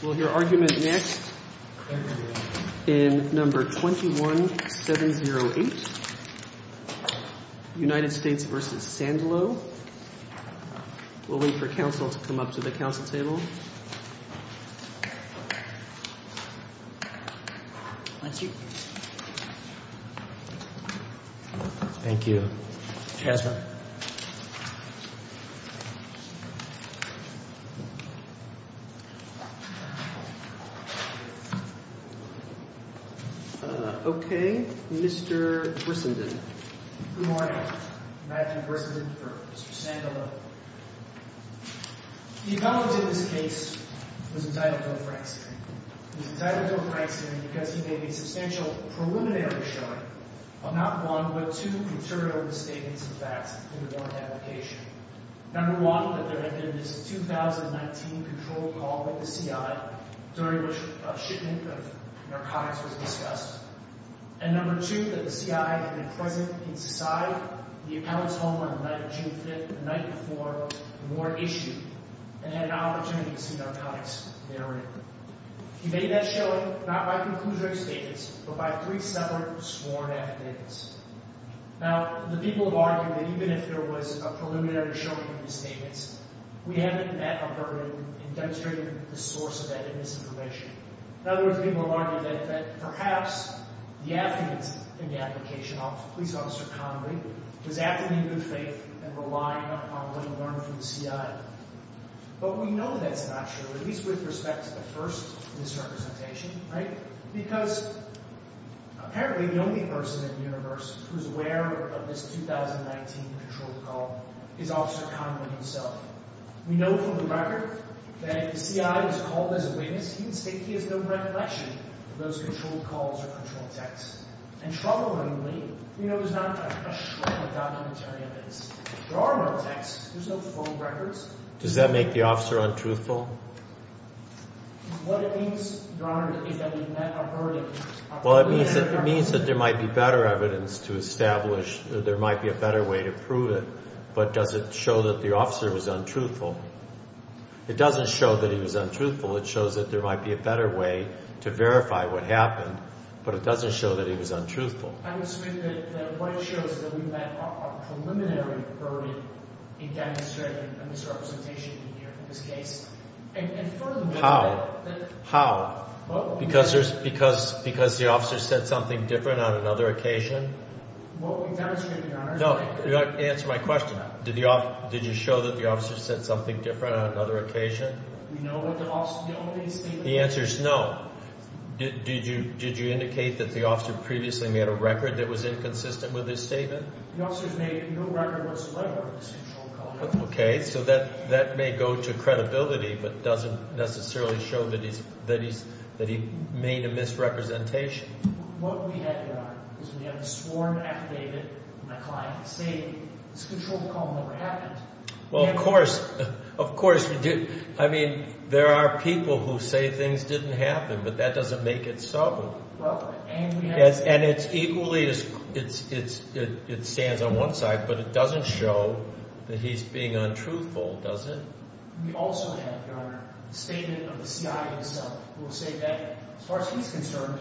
We'll hear argument next in No. 21-708, United States v. Sandalo. We'll wait for counsel to come up to the counsel table. Thank you. Thank you. Okay, Mr. Grissenden. Good morning. Matthew Grissenden for Mr. Sandalo. The accountant in this case was entitled to a frank statement. He was entitled to a frank statement because he made a substantial preliminary showing of not one but two material misstatements and facts in the warrant application. No. 1, that there had been this 2019 controlled call with the CI during which a shipment of narcotics was discussed. And No. 2, that the CI had been present inside the accountant's home on the night of June 5th, the night before the warrant issued, and had an opportunity to see narcotics therein. He made that showing not by conclusion of statements but by three separate sworn affidavits. Now, the people have argued that even if there was a preliminary showing of misstatements, we haven't met a burden in demonstrating the source of that misinformation. In other words, people have argued that perhaps the affidavits in the application of Police Officer Conway was acting in good faith and relying upon what he learned from the CI. But we know that's not true, at least with respect to the first misrepresentation, right? Because apparently the only person in the universe who's aware of this 2019 controlled call is Officer Conway himself. We know from the record that if the CI was called as a witness, he would state he has no recollection of those controlled calls or controlled texts. And troublingly, we know there's not a shred of documentary evidence. There are no texts. There's no phone records. Does that make the officer untruthful? What it means, Your Honor, is that we've met a burden. Well, it means that there might be better evidence to establish, there might be a better way to prove it. But does it show that the officer was untruthful? It doesn't show that he was untruthful. It shows that there might be a better way to verify what happened. But it doesn't show that he was untruthful. How? How? Because the officer said something different on another occasion? No, answer my question. Did you show that the officer said something different on another occasion? The answer is no. Did you indicate that the officer previously made a record that was inconsistent with his statement? The officer's made no record whatsoever of his controlled call. Okay, so that may go to credibility, but doesn't necessarily show that he made a misrepresentation. What we have, Your Honor, is we have a sworn affidavit from a client stating his controlled call never happened. Well, of course. Of course. I mean, there are people who say things didn't happen, but that doesn't make it so. And it's equally, it stands on one side, but it doesn't show that he's being untruthful, does it? We also have, Your Honor, a statement of the C.I.E. himself who will say that, as far as he's concerned,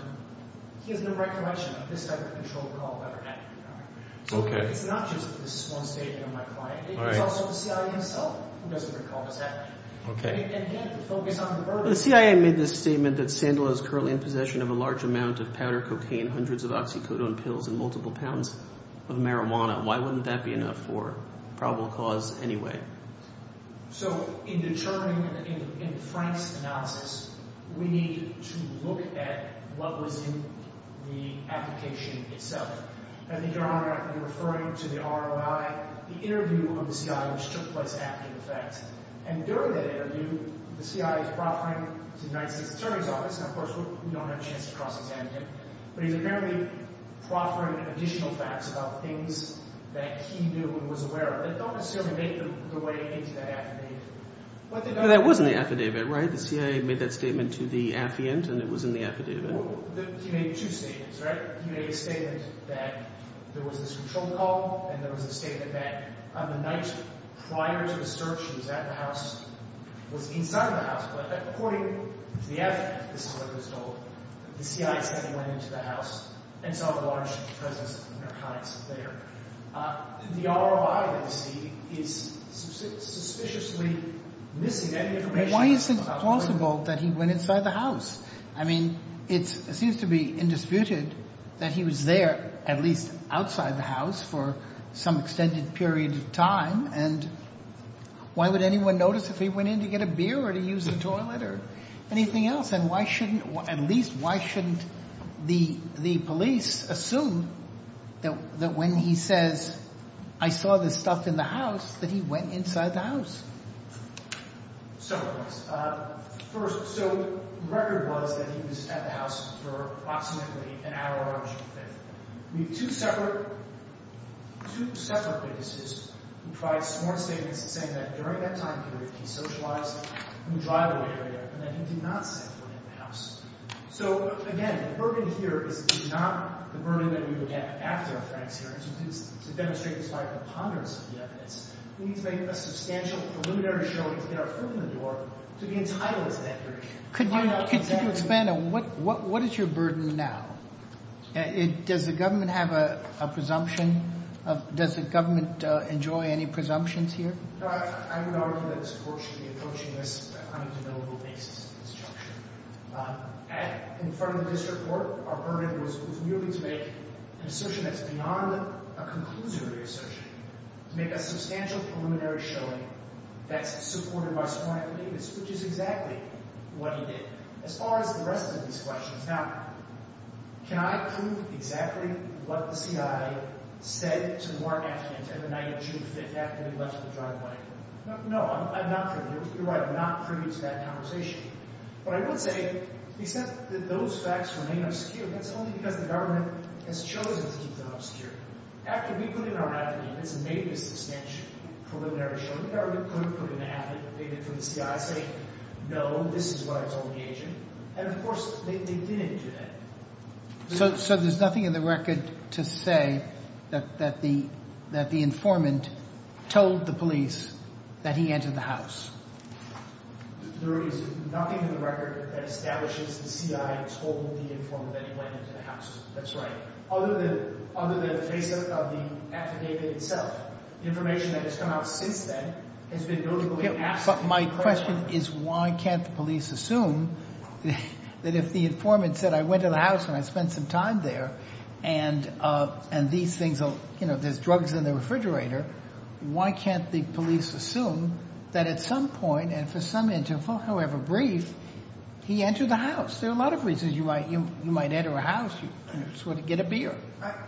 he has no recollection of this type of controlled call ever happening, Your Honor. So it's not just this one statement of my client. It was also the C.I.E. himself who doesn't recall this happening. The C.I.E. made this statement that Sandler is currently in possession of a large amount of powder cocaine, hundreds of oxycodone pills, and multiple pounds of marijuana. Why wouldn't that be enough for probable cause anyway? So in determining, in Frank's analysis, we need to look at what was in the application itself. I think, Your Honor, you're referring to the R.O.I., the interview of the C.I.E., which took place after the fact. And during that interview, the C.I.E. is proffering to the United States Attorney's Office, and of course we don't have a chance to cross-examine him, but he's apparently proffering additional facts about things that he knew and was aware of. They don't necessarily make their way into that affidavit. Well, that was in the affidavit, right? The C.I.E. made that statement to the affiant, and it was in the affidavit. Well, he made two statements, right? He made a statement that there was this controlled call, and there was a statement that on the night prior to the search, he was at the house, was inside the house. But according to the affiant, this is what he was told, the C.I.E. said he went into the house and saw the large presence of narcotics there. The R.O.I. that we see is suspiciously missing that information. Why is it plausible that he went inside the house? I mean, it seems to be indisputed that he was there, at least outside the house, for some extended period of time, and why would anyone notice if he went in to get a beer or to use the toilet or anything else? And why shouldn't, at least why shouldn't the police assume that when he says, I saw this stuff in the house, that he went inside the house? Several things. First, so the record was that he was at the house for approximately an hour on June 5th. We have two separate witnesses who provide sworn statements saying that during that time period, he socialized in the driveway area and that he did not set foot in the house. So again, the burden here is not the burden that we would get after a Frank's hearing. To demonstrate the scientific ponderance of the evidence, we need to make a substantial preliminary show that he did not open the door to be entitled to that information. Could you expand on what is your burden now? Does the government have a presumption? Does the government enjoy any presumptions here? I would argue that this Court should be approaching this on a debatable basis. In front of the District Court, our burden was merely to make an assertion that's beyond a conclusory assertion, to make a substantial preliminary showing that's supported by sworn evidence, which is exactly what he did. As far as the rest of these questions, now, can I prove exactly what the CI said to Mark Atkins on the night of June 5th after he left the driveway? No, I'm not privy. You're right, I'm not privy to that conversation. But I would say, except that those facts remain obscure, that's only because the government has chosen to keep them obscure. After we put in our evidence and made a substantial preliminary showing, the government couldn't put in an affidavit from the CI saying, no, this is what I told the agent, and of course, they didn't do that. So there's nothing in the record to say that the informant told the police that he entered the house? There is nothing in the record that establishes the CI told the informant that he went into the house. That's right. Other than the face-up of the affidavit itself. The information that has come out since then has been notably absent. My question is, why can't the police assume that if the informant said, I went to the house and I spent some time there, and there's drugs in the refrigerator, why can't the police assume that at some point and for some interval, however brief, he entered the house? There are a lot of reasons you might enter a house, you sort of get a beer.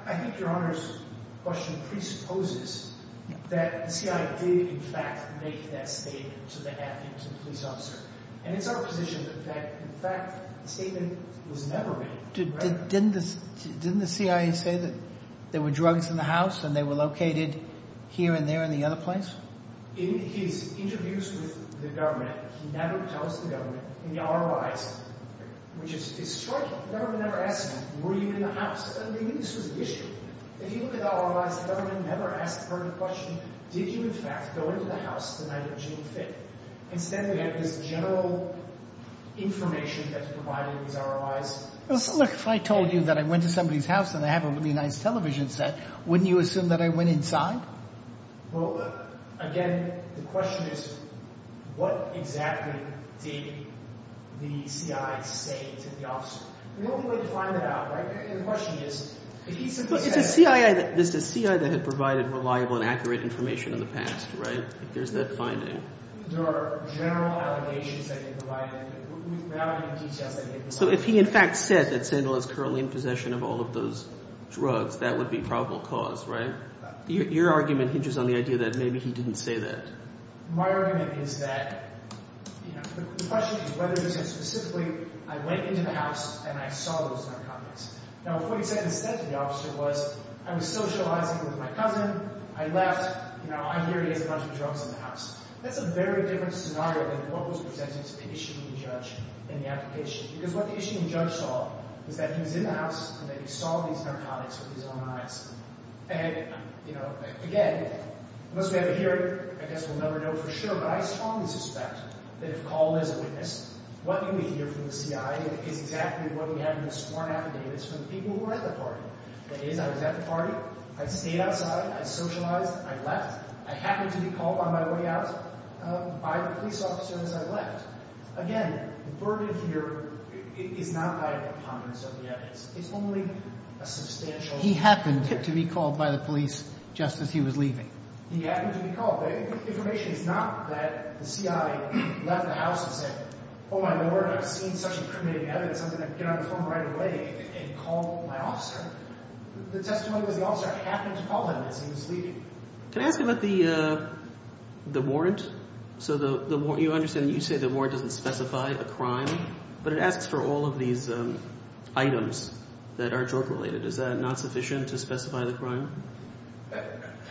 I think Your Honor's question presupposes that the CI did, in fact, make that statement to the police officer. And it's our position that, in fact, the statement was never made. Didn't the CI say that there were drugs in the house and they were located here and there in the other place? In his interviews with the government, he never tells the government in the ROIs, which is striking. The government never asks him, were you in the house? I mean, this was an issue. If you look at the ROIs, the government never asks the person the question, did you, in fact, go into the house the night of June 5th? Instead, we have this general information that's provided in these ROIs. Look, if I told you that I went to somebody's house and I have a really nice television set, wouldn't you assume that I went inside? Well, again, the question is, what exactly did the CI say to the officer? The only way to find that out, right? The question is, if he simply said— But it's a CI that had provided reliable and accurate information in the past, right? There's that finding. There are general allegations that he provided. Without any details that he had provided. So if he, in fact, said that Sandal is currently in possession of all of those drugs, that would be probable cause, right? Your argument hinges on the idea that maybe he didn't say that. My argument is that the question is whether he said specifically, I went into the house and I saw those narcotics. Now, if what he said instead to the officer was, I was socializing with my cousin. I left. I hear he has a bunch of drugs in the house. That's a very different scenario than what was presented to the issuing judge in the application. Because what the issuing judge saw was that he was in the house and that he saw these narcotics with his own eyes. And, you know, again, unless we have a hearing, I guess we'll never know for sure. But I strongly suspect that if called as a witness, what you would hear from the CI is exactly what we have in this sworn affidavits from the people who were at the party. That is, I was at the party. I stayed outside. I socialized. I left. I happened to be called on my way out by the police officer as I left. Again, the verdict here is not by a prominence of the evidence. It's only a substantial— He happened to be called by the police just as he was leaving. He happened to be called. The information is not that the CI left the house and said, Oh, my Lord, I've seen such incriminating evidence. I'm going to get on the phone right away and call my officer. The testimony was the officer happened to call him as he was leaving. Can I ask you about the warrant? So you understand that you say the warrant doesn't specify a crime, but it asks for all of these items that are drug-related. Is that not sufficient to specify the crime?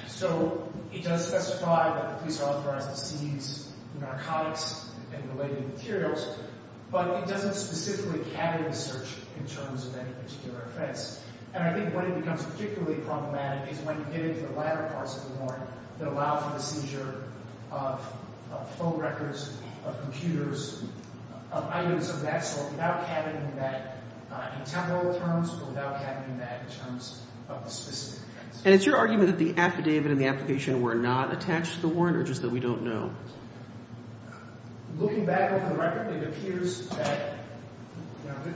So it does specify that the police are authorized to seize narcotics and related materials, but it doesn't specifically cabinet the search in terms of any particular offense. And I think when it becomes particularly problematic is when you get into the latter parts of the warrant that allow for the seizure of phone records, of computers, of items of that sort without cabinetting that in temporal terms or without cabinetting that in terms of a specific offense. And it's your argument that the affidavit and the application were not attached to the warrant or just that we don't know? Looking back at the record, it appears that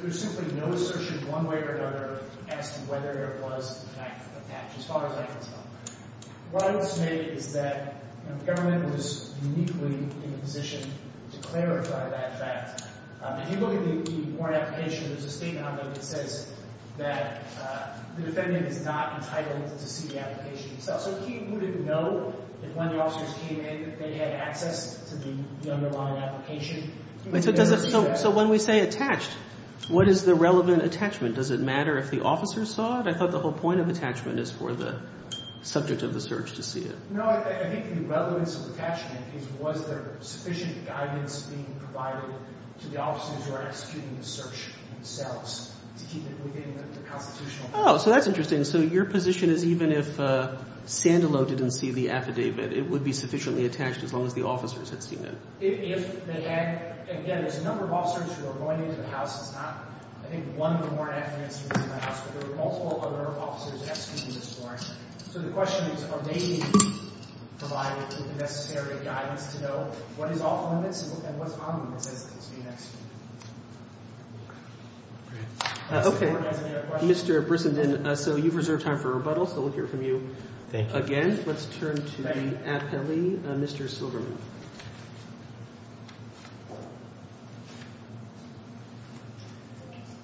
there's simply no assertion one way or another as to whether it was in fact attached as far as I can tell. What I would say is that the government was uniquely in a position to clarify that fact. If you look at the warrant application, there's a statement on there that says that the defendant is not entitled to see the application itself. So who didn't know that when the officers came in that they had access to the underlying application? So when we say attached, what is the relevant attachment? Does it matter if the officers saw it? I thought the whole point of attachment is for the subject of the search to see it. No, I think the relevance of attachment is was there sufficient guidance being provided to the officers who are executing the search themselves to keep it within the constitutional framework? Oh, so that's interesting. So your position is even if Sandilow didn't see the affidavit, it would be sufficiently attached as long as the officers had seen it? If they had, again, there's a number of officers who are going into the house. It's not, I think, one of the more affidavits in the house, but there were multiple other officers executing this warrant. So the question is, are they being provided with the necessary guidance to know what is off-limits and what's on-limits? That's going to be next. OK. Mr. Brissenden, so you've reserved time for rebuttal, so we'll hear from you again. Let's turn to the appellee, Mr. Silverman.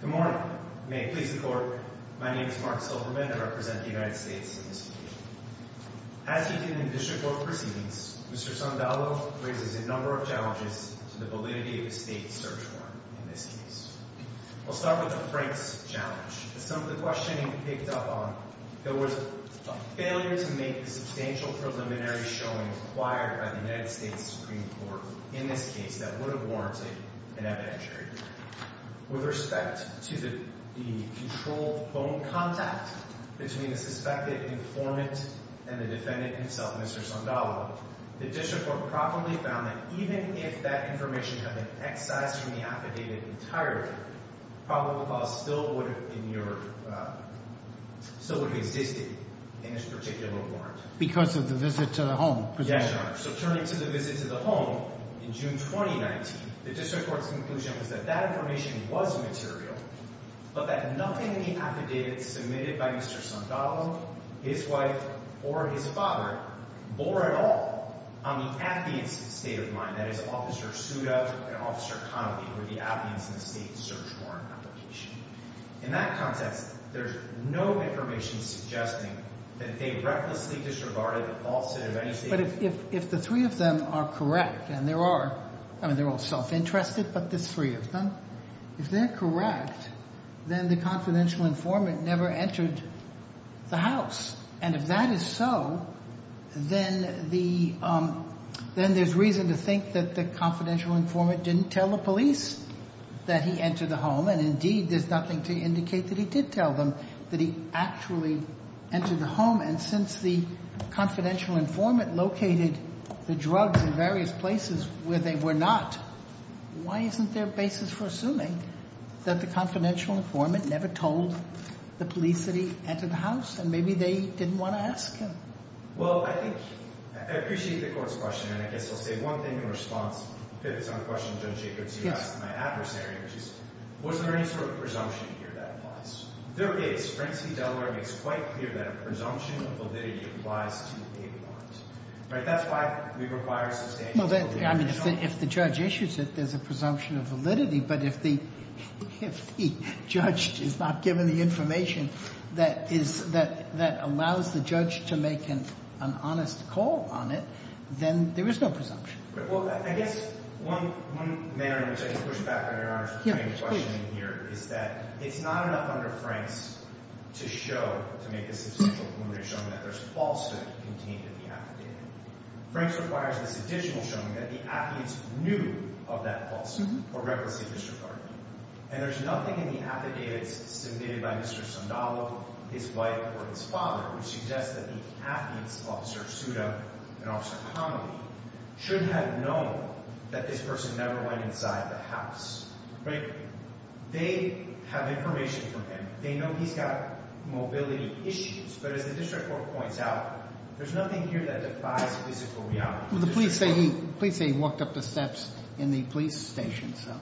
Good morning. May it please the Court, my name is Mark Silverman and I represent the United States on this occasion. As he did in district court proceedings, Mr. Sandilow raises a number of challenges to the validity of a state search warrant in this case. I'll start with the Franks challenge. As some of the questioning picked up on, there was a failure to make a substantial preliminary showing acquired by the United States Supreme Court in this case that would have warranted an evidentiary verdict. With respect to the controlled phone contact between the suspected informant and the defendant himself, Mr. Sandilow, the district court properly found that even if that information had been excised from the affidavit entirely, probable cause still would have existed in this particular warrant. Because of the visit to the home? Yes, Your Honor. So turning to the visit to the home in June 2019, the district court's conclusion was that that information was material, but that nothing in the affidavit submitted by Mr. Sandilow, his wife, or his father bore at all on the appearance of state of mind. That is, Officer Sudow and Officer Connolly were the applicants in the state search warrant application. In that context, there's no information suggesting that they recklessly disregarded the falsity of any state of mind. But if the three of them are correct, and they're all self-interested, but the three of them, if they're correct, then the confidential informant never entered the house. And if that is so, then there's reason to think that the confidential informant didn't tell the police that he entered the home. And indeed, there's nothing to indicate that he did tell them that he actually entered the home. And since the confidential informant located the drugs in various places where they were not, why isn't there a basis for assuming that the confidential informant never told the police that he entered the house, and maybe they didn't want to ask him? Well, I appreciate the court's question, and I guess I'll say one thing in response. It's on the question Judge Jacobs asked my adversary, which is, was there any sort of presumption here that applies? There is. Frank C. Delaware makes quite clear that a presumption of validity applies to a warrant. Right? That's why we require substantial evidence. Well, I mean, if the judge issues it, there's a presumption of validity. But if the judge is not given the information that allows the judge to make an honest call on it, then there is no presumption. Well, I guess one manner in which I can push back on Your Honor's question here is that it's not enough under Frank's to show, to make a substantial preliminary showing that there's falsehood contained in the affidavit. Frank's requires this additional showing that the affidavits knew of that falsehood, or recklessly disregarded it. And there's nothing in the affidavits submitted by Mr. Sondalo, his wife, or his father, which suggests that the affidavits, Officer Suda and Officer Connelly, should have known that this person never went inside the house. Right? They have information from him. They know he's got mobility issues. But as the district court points out, there's nothing here that defies physical reality. Well, the police say he walked up the steps in the police station, so.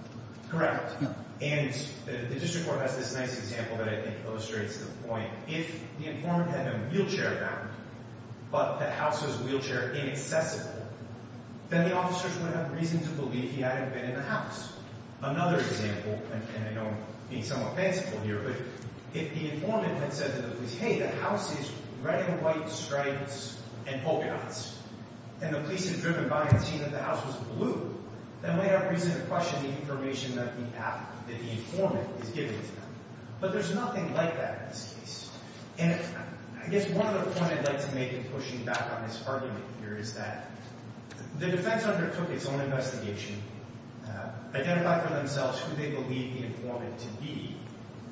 Correct. And the district court has this nice example that I think illustrates the point. If the informant had no wheelchair around, but the house was wheelchair inaccessible, then the officers wouldn't have reason to believe he had been in the house. Another example, and I know I'm being somewhat fanciful here, but if the informant had said to the police, hey, the house is red and white stripes and polka dots, and the police had driven by and seen that the house was blue, then we have reason to question the information that the informant is giving to them. But there's nothing like that in this case. And I guess one other point I'd like to make in pushing back on this argument here is that the defense undertook its own investigation, identified for themselves who they believed the informant to be.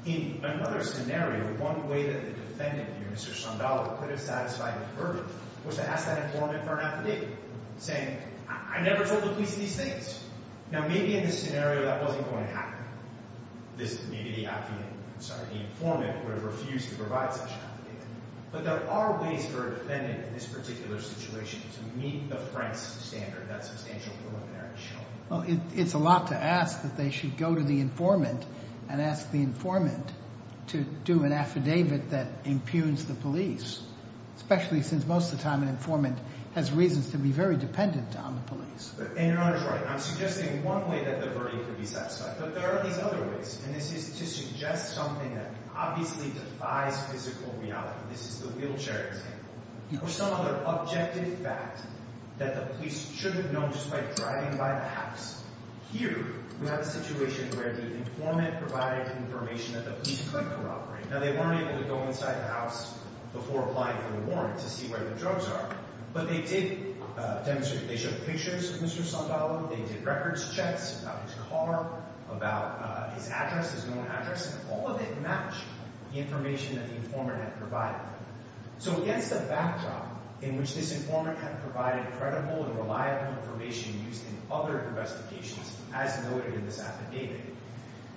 In another scenario, one way that the defendant, Mr. Sandala, could have satisfied the verdict was to ask that informant for an affidavit, saying, I never told the police these things. Now, maybe in this scenario, that wasn't going to happen. Maybe the informant would have refused to provide such an affidavit. But there are ways for a defendant in this particular situation to meet the France standard, that substantial preliminary show. Well, it's a lot to ask that they should go to the informant and ask the informant to do an affidavit that impugns the police, especially since most of the time an informant has reasons to be very dependent on the police. And you're almost right. I'm suggesting one way that the verdict could be satisfied. But there are these other ways. And this is to suggest something that obviously defies physical reality. This is the wheelchair example. Or some other objective fact that the police should have known just by driving by the house. Here, we have a situation where the informant provided information that the police couldn't corroborate. Now, they weren't able to go inside the house before applying for the warrant to see where the drugs are. But they did demonstrate. They showed pictures of Mr. Sandalo. They did records checks about his car, about his address, his known address. And all of it matched the information that the informant had provided. So against the backdrop in which this informant had provided credible and reliable information used in other investigations, as noted in this affidavit,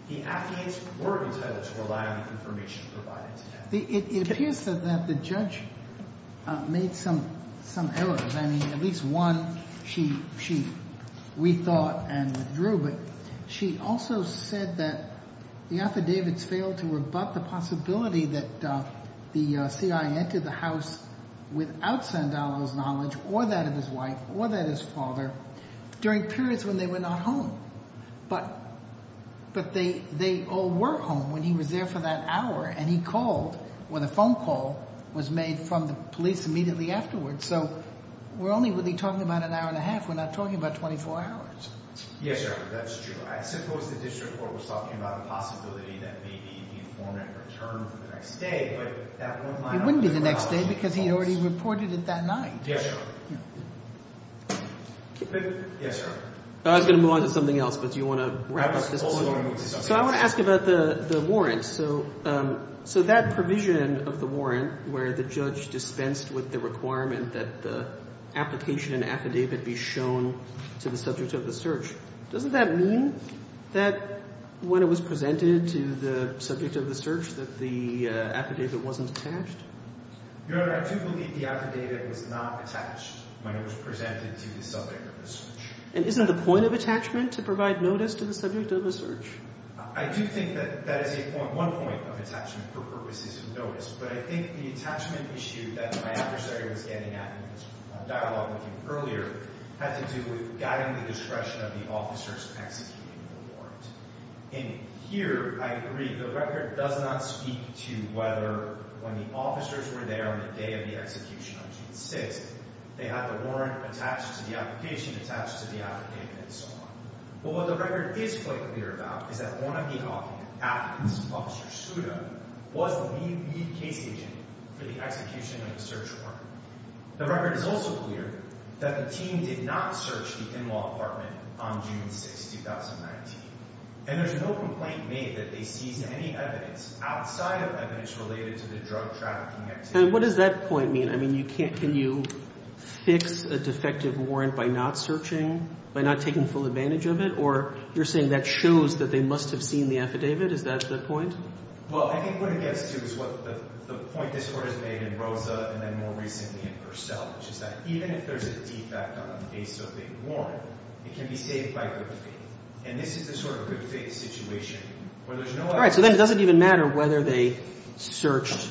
the affidavits were entitled to reliable information provided to them. It appears that the judge made some errors. I mean, at least one she rethought and withdrew. But she also said that the affidavits the house without Sandalo's knowledge or that of his wife or that of his father during periods when they were not home. But they all were home when he was there for that hour. And he called when a phone call was made from the police immediately afterwards. So we're only really talking about an hour and a half. We're not talking about 24 hours. Yes, sir. That's true. I suppose the district court was talking about the possibility that maybe the informant returned the next day. But that wouldn't line up with the house. He reported it that night. Yes, sir. Yes, sir. I was going to move on to something else. But do you want to wrap up this? So I want to ask about the warrant. So that provision of the warrant where the judge dispensed with the requirement that the application and affidavit be shown to the subject of the search, doesn't that mean that when it was presented to the subject of the search that the affidavit wasn't attached? Your Honor, I do believe the affidavit was not attached when it was presented to the subject of the search. And isn't the point of attachment to provide notice to the subject of the search? I do think that that is one point of attachment for purposes of notice. But I think the attachment issue that my adversary was getting at in the dialogue with you earlier had to do with guiding the discretion of the officers executing the warrant. And here, I agree, the record does not speak to whether when the officers were there on the day of the execution on June 6, they had the warrant attached to the application, attached to the affidavit, and so on. But what the record is quite clear about is that one of the applicants, Officer Suda, was the lead case agent for the execution of the search warrant. The record is also clear that the team did not search the in-law apartment on June 6, 2019. And there's no complaint made that they seized any evidence outside of evidence related to the drug trafficking activity. And what does that point mean? I mean, can you fix a defective warrant by not searching, by not taking full advantage of it? Or you're saying that shows that they must have seen the affidavit? Is that the point? Well, I think what it gets to is what the point this Court has made in Rosa, and then more recently in Purcell, which is that even if there's a defect on the base of a warrant, it can be saved by good faith. And this is the sort of good faith situation where there's no evidence. All right. So then it doesn't even matter whether they searched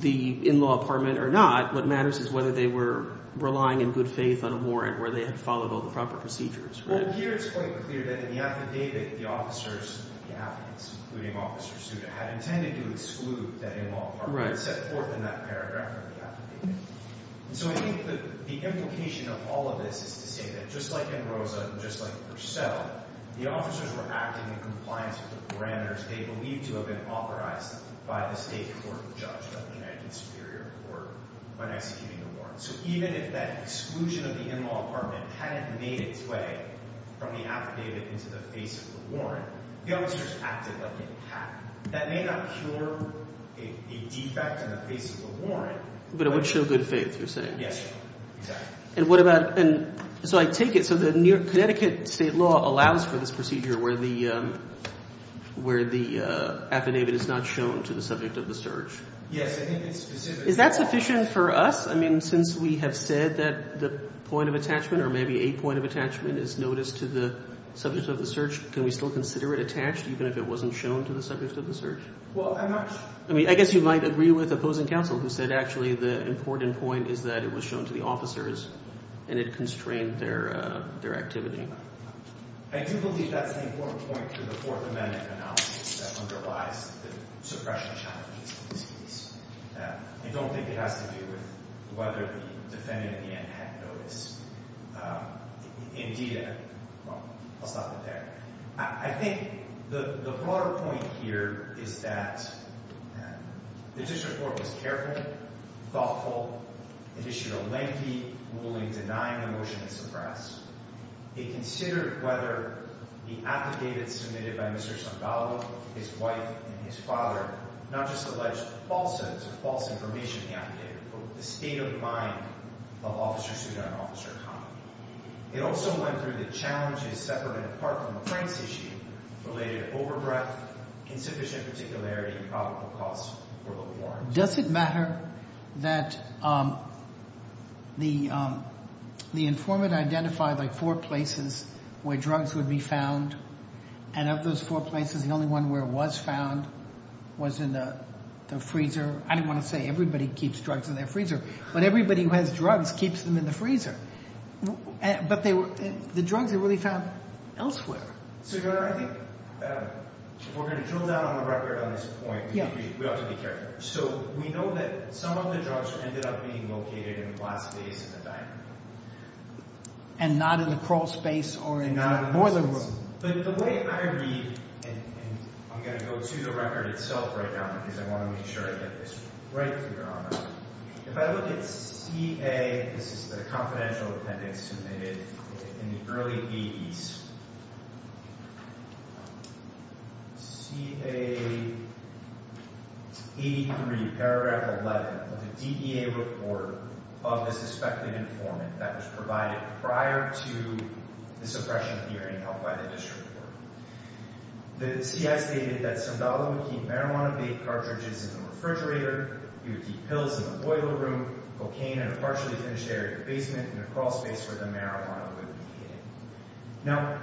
the in-law apartment or not. What matters is whether they were relying in good faith on a warrant where they had followed all the proper procedures. Well, here it's quite clear that in the affidavit, the officers, the applicants, including Officer Suda, had intended to exclude that in-law apartment. Right. It's set forth in that paragraph in the affidavit. And so I think that the implication of all of this is to say that just like in Rosa and just like in Purcell, the officers were acting in compliance with the parameters they believed to have been authorized by the state court judge of the United States Superior Court when executing the warrant. So even if that exclusion of the in-law apartment hadn't made its way from the affidavit into the face of the warrant, the officers acted like they had. That may not cure a defect in the face of a warrant. But it would show good faith, you're saying. Yes. Exactly. And what about, and so I take it, so the Connecticut state law allows for this procedure where the affidavit is not shown to the subject of the search. Yes, I think it's specific. Is that sufficient for us? I mean, since we have said that the point of attachment or maybe a point of attachment is noticed to the subject of the search, can we still consider it attached even if it wasn't shown to the subject of the search? Well, I'm not sure. I mean, I guess you might agree with opposing counsel who said actually the important point is that it was shown to the officers and it constrained their activity. I do believe that's an important point to the Fourth Amendment analysis that underlies the suppression challenge of these cases. I don't think it has to do with whether the defendant in the end had notice. Indeed, I'll stop it there. I think the broader point here is that the district court was careful, thoughtful. It issued a lengthy ruling denying the motion to suppress. It considered whether the affidavit submitted by Mr. Zamballo, his wife, and his father not just alleged falsehoods or false information in the affidavit, but the state of mind of Officer Souda and Officer Khan. It also went through the challenges separate and apart from the Franks issue related to overbreath, insufficient particularity, and probable cause for the warrants. Does it matter that the informant identified like four places where drugs would be found? And of those four places, the only one where it was found was in the freezer? I don't want to say everybody keeps drugs in their freezer, but everybody who has drugs keeps them in the freezer. But the drugs are really found elsewhere. So, Your Honor, I think we're going to drill down on the record on this point. We ought to be careful. So we know that some of the drugs ended up being located in a glass vase in the dining room. And not in a crawl space or in a boiler room. But the way I read, and I'm going to go to the record itself right now because I want to make sure I get this right, Your Honor. If I look at CA, this is the confidential appendix that was submitted in the early 80s. CA 83, paragraph 11 of the DEA report of the suspected informant that was provided prior to the suppression of the hearing held by the district court. The CA stated that Zabala would keep marijuana-baked cartridges in the refrigerator. He would keep pills in the boiler room, cocaine in a partially finished area basement in a crawl space where the marijuana would be hidden. Now,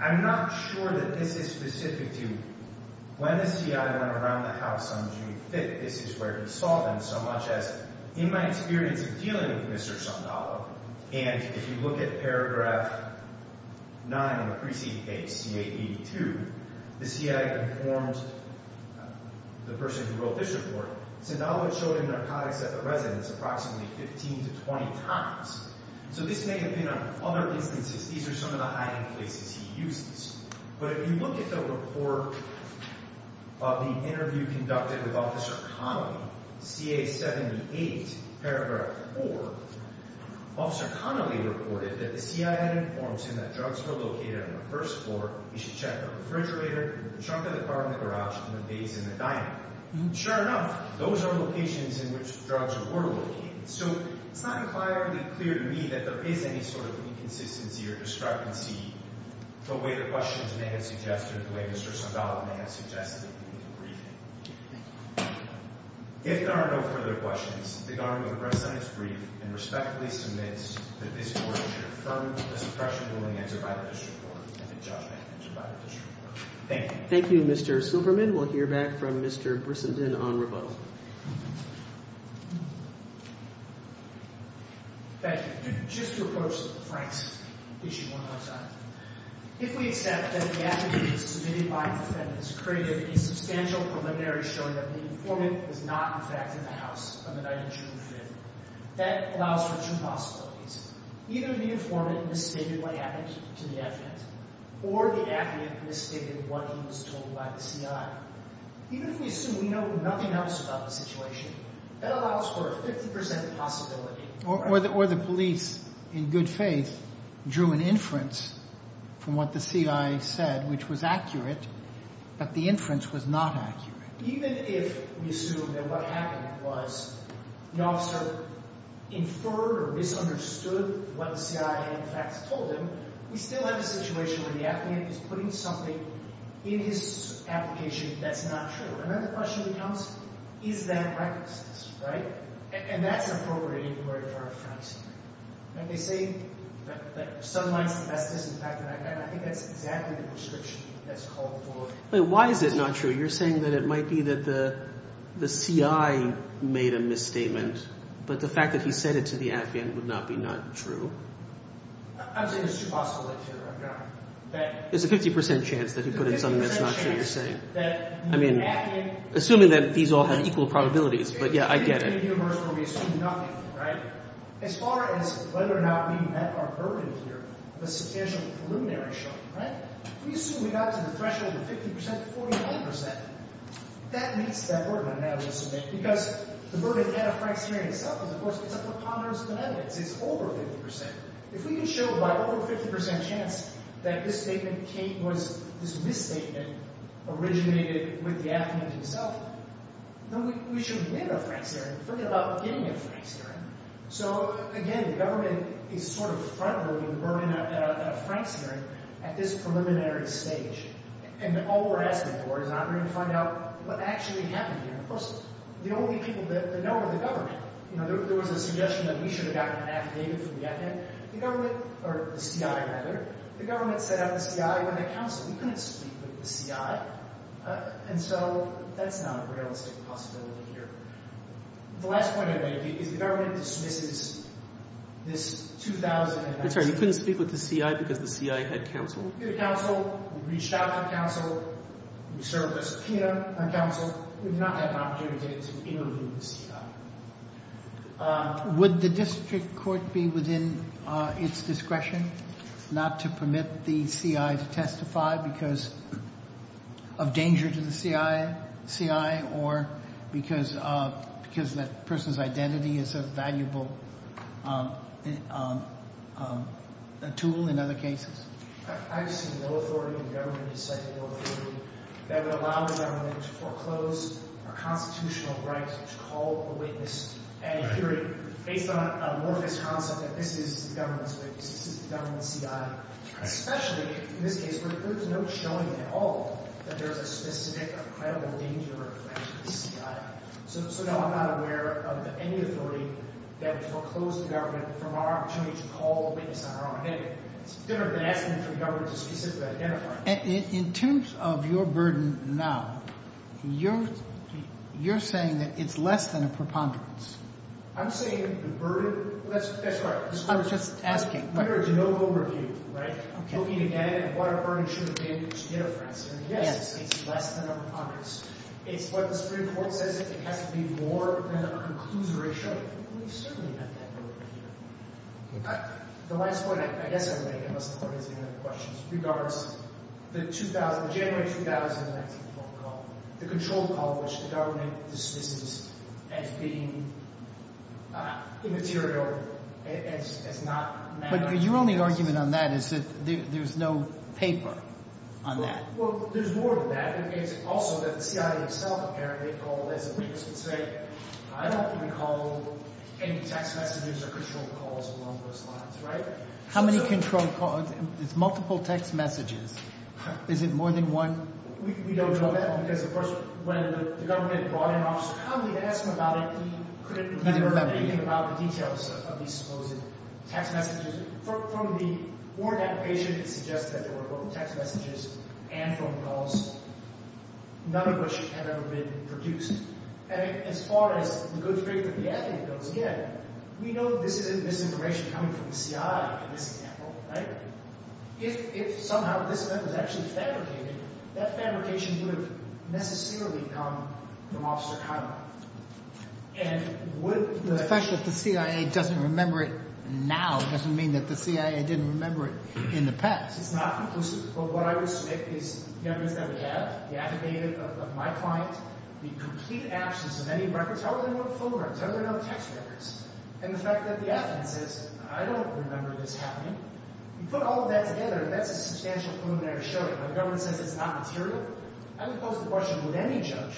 I'm not sure that this is specific to when the CI went around the house on June 5th. This is where he saw them, so much as, in my experience of dealing with Mr. Zabala, and if you look at paragraph 9 on the preceding page, CA 82, the CI informed the person who wrote this report, Zabala showed him narcotics at the residence approximately 15 to 20 times. So this may depend on other instances. These are some of the hiding places he uses. But if you look at the report of the interview conducted with Officer Connolly, CA 78, paragraph 4, Officer Connolly reported that the CI had informed him that drugs were located on the first floor. He should check the refrigerator, the trunk of the car in the garage, and the vase in the dining room. Sure enough, those are locations in which drugs were located. So it's not entirely clear to me that there is any sort of inconsistency or discrepancy the way the questions may have suggested, the way Mr. Zabala may have suggested in the briefing. If there are no further questions, the government of Bresson is briefed and respectfully submits that this court should affirm the suppression ruling entered by the district court and the judgment entered by the district court. Thank you. Thank you, Mr. Silverman. And we'll hear back from Mr. Brissenden on rebuttal. Thank you. Just to approach Frank's issue one more time. If we accept that the affidavit submitted by the defendant has created a substantial preliminary showing that the informant was not, in fact, in the house on the night of June 5, that allows for two possibilities. Either the informant misstated what happened to the affidavit, or the affidavit misstated what he was told by the CI. Even if we assume we know nothing else about the situation, that allows for a 50% possibility. Or the police, in good faith, drew an inference from what the CI said, which was accurate, but the inference was not accurate. Even if we assume that what happened was the officer inferred or misunderstood what the CI, in fact, told him, we still have a situation where the affidavit is putting something in his application that's not true. And then the question becomes, is that recklessness, right? And that's an appropriate inquiry for our defense. And they say that sunlight's the best disinfectant. And I think that's exactly the description that's called for. But why is it not true? You're saying that it might be that the CI made a misstatement, but the fact that he said it to the affidavit would not be not true? I'm saying it's too possible that it's true. There's a 50% chance that he put in something that's not true, you're saying. I mean, assuming that these all have equal probabilities. But yeah, I get it. We assume nothing, right? As far as whether or not we met our burden here, the substantial preliminary showing, right? We assume we got to the threshold of 50%, 49%. That meets that burden, I would submit. Because the burden at a price point itself is a preponderance of evidence. It's over 50%. If we can show by over 50% chance that this misstatement originated with the affidavit itself, then we should win a Frank's hearing. Forget about getting a Frank's hearing. So again, the government is sort of front-loading Vernon at a Frank's hearing at this preliminary stage. And all we're asking for is not going Of course, the only people that know are the government. There was a suggestion that we should have gotten an affidavit from the FN. The government, or the CI rather, the government set out the CI when the council, we couldn't speak with the CI. And so that's not a realistic possibility here. The last point I'd make is the government dismisses this 2000 I'm sorry, you couldn't speak with the CI because the CI had counsel? We did counsel. We reached out to counsel. We served a subpoena on counsel. We've not had an opportunity to interview the CI. Would the district court be within its discretion not to permit the CI to testify because of danger to the CI or because that person's identity is a valuable tool in other cases? I just see no authority. The government is setting no authority. That would allow the government to foreclose a constitutional right to call a witness at a hearing based on a morphous concept that this is the government's witness. This is the government's CI. Especially in this case where there's no showing at all that there's a specific or credible danger to the CI. So no, I'm not aware of any authority that foreclosed the government from our opportunity to call a witness on our own. It's different than asking for the government to specifically identify. In terms of your burden now, you're saying that it's less than a preponderance. I'm saying the burden. That's right. I was just asking. We are a general overview, right? Looking at it and what our burden should have been to get our friends. And yes, it's less than a preponderance. It's what the Supreme Court says it has to be more than a conclusion ratio. We've certainly met that burden here. The last point I guess I would make, unless there are any other questions, regards the January 2019 phone call, the control call which the government dismisses as being immaterial and as not mattering. But your only argument on that is that there's no paper on that. Well, there's more to that. It's also that the CI itself apparently called as a witness and said, I don't recall any text messages or control calls along those lines, right? How many control calls? It's multiple text messages. Is it more than one? We don't know that because, of course, when the government brought in Officer Conley to ask him about it, he couldn't remember anything about the details of these supposed text messages. From the warrant application, it suggests that there were both text messages and phone calls, none of which have ever been produced. And as far as the good faith of the advocate goes, again, we know this isn't misinformation coming from the CI in this example, right? If somehow this event was actually fabricated, that fabrication would have necessarily come from Officer Conley. And would the fact that the CIA doesn't remember it now doesn't mean that the CIA didn't remember it in the past. It's not conclusive. But what I would say is the evidence that we have, the affidavit of my client, the complete absence of any records, how are there no phone records? How are there no text records? And the fact that the affidavit says, I don't remember this happening. You put all of that together, that's a substantial preliminary showing. When the government says it's not material, I would pose the question, would any judge,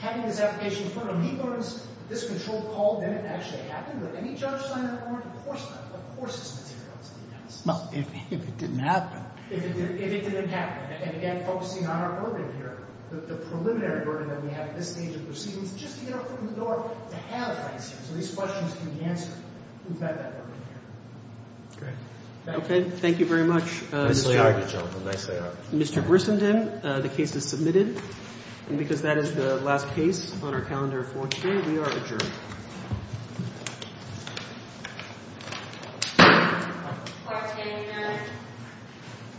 having this application in front of him, he learns that this controlled call didn't actually happen? Would any judge sign that warrant? Of course not. Of course it's material to the defense. Well, if it didn't happen. If it didn't happen. And again, focusing on our burden here, the preliminary burden that we have at this stage of proceedings, just to get our foot in the door, to have answers. So these questions can be answered. We've got that burden here. Thank you very much. Nicely argued, gentlemen. Nicely argued. Mr. Grissenden, the case is submitted. And because that is the last case on our calendar for today, we are adjourned.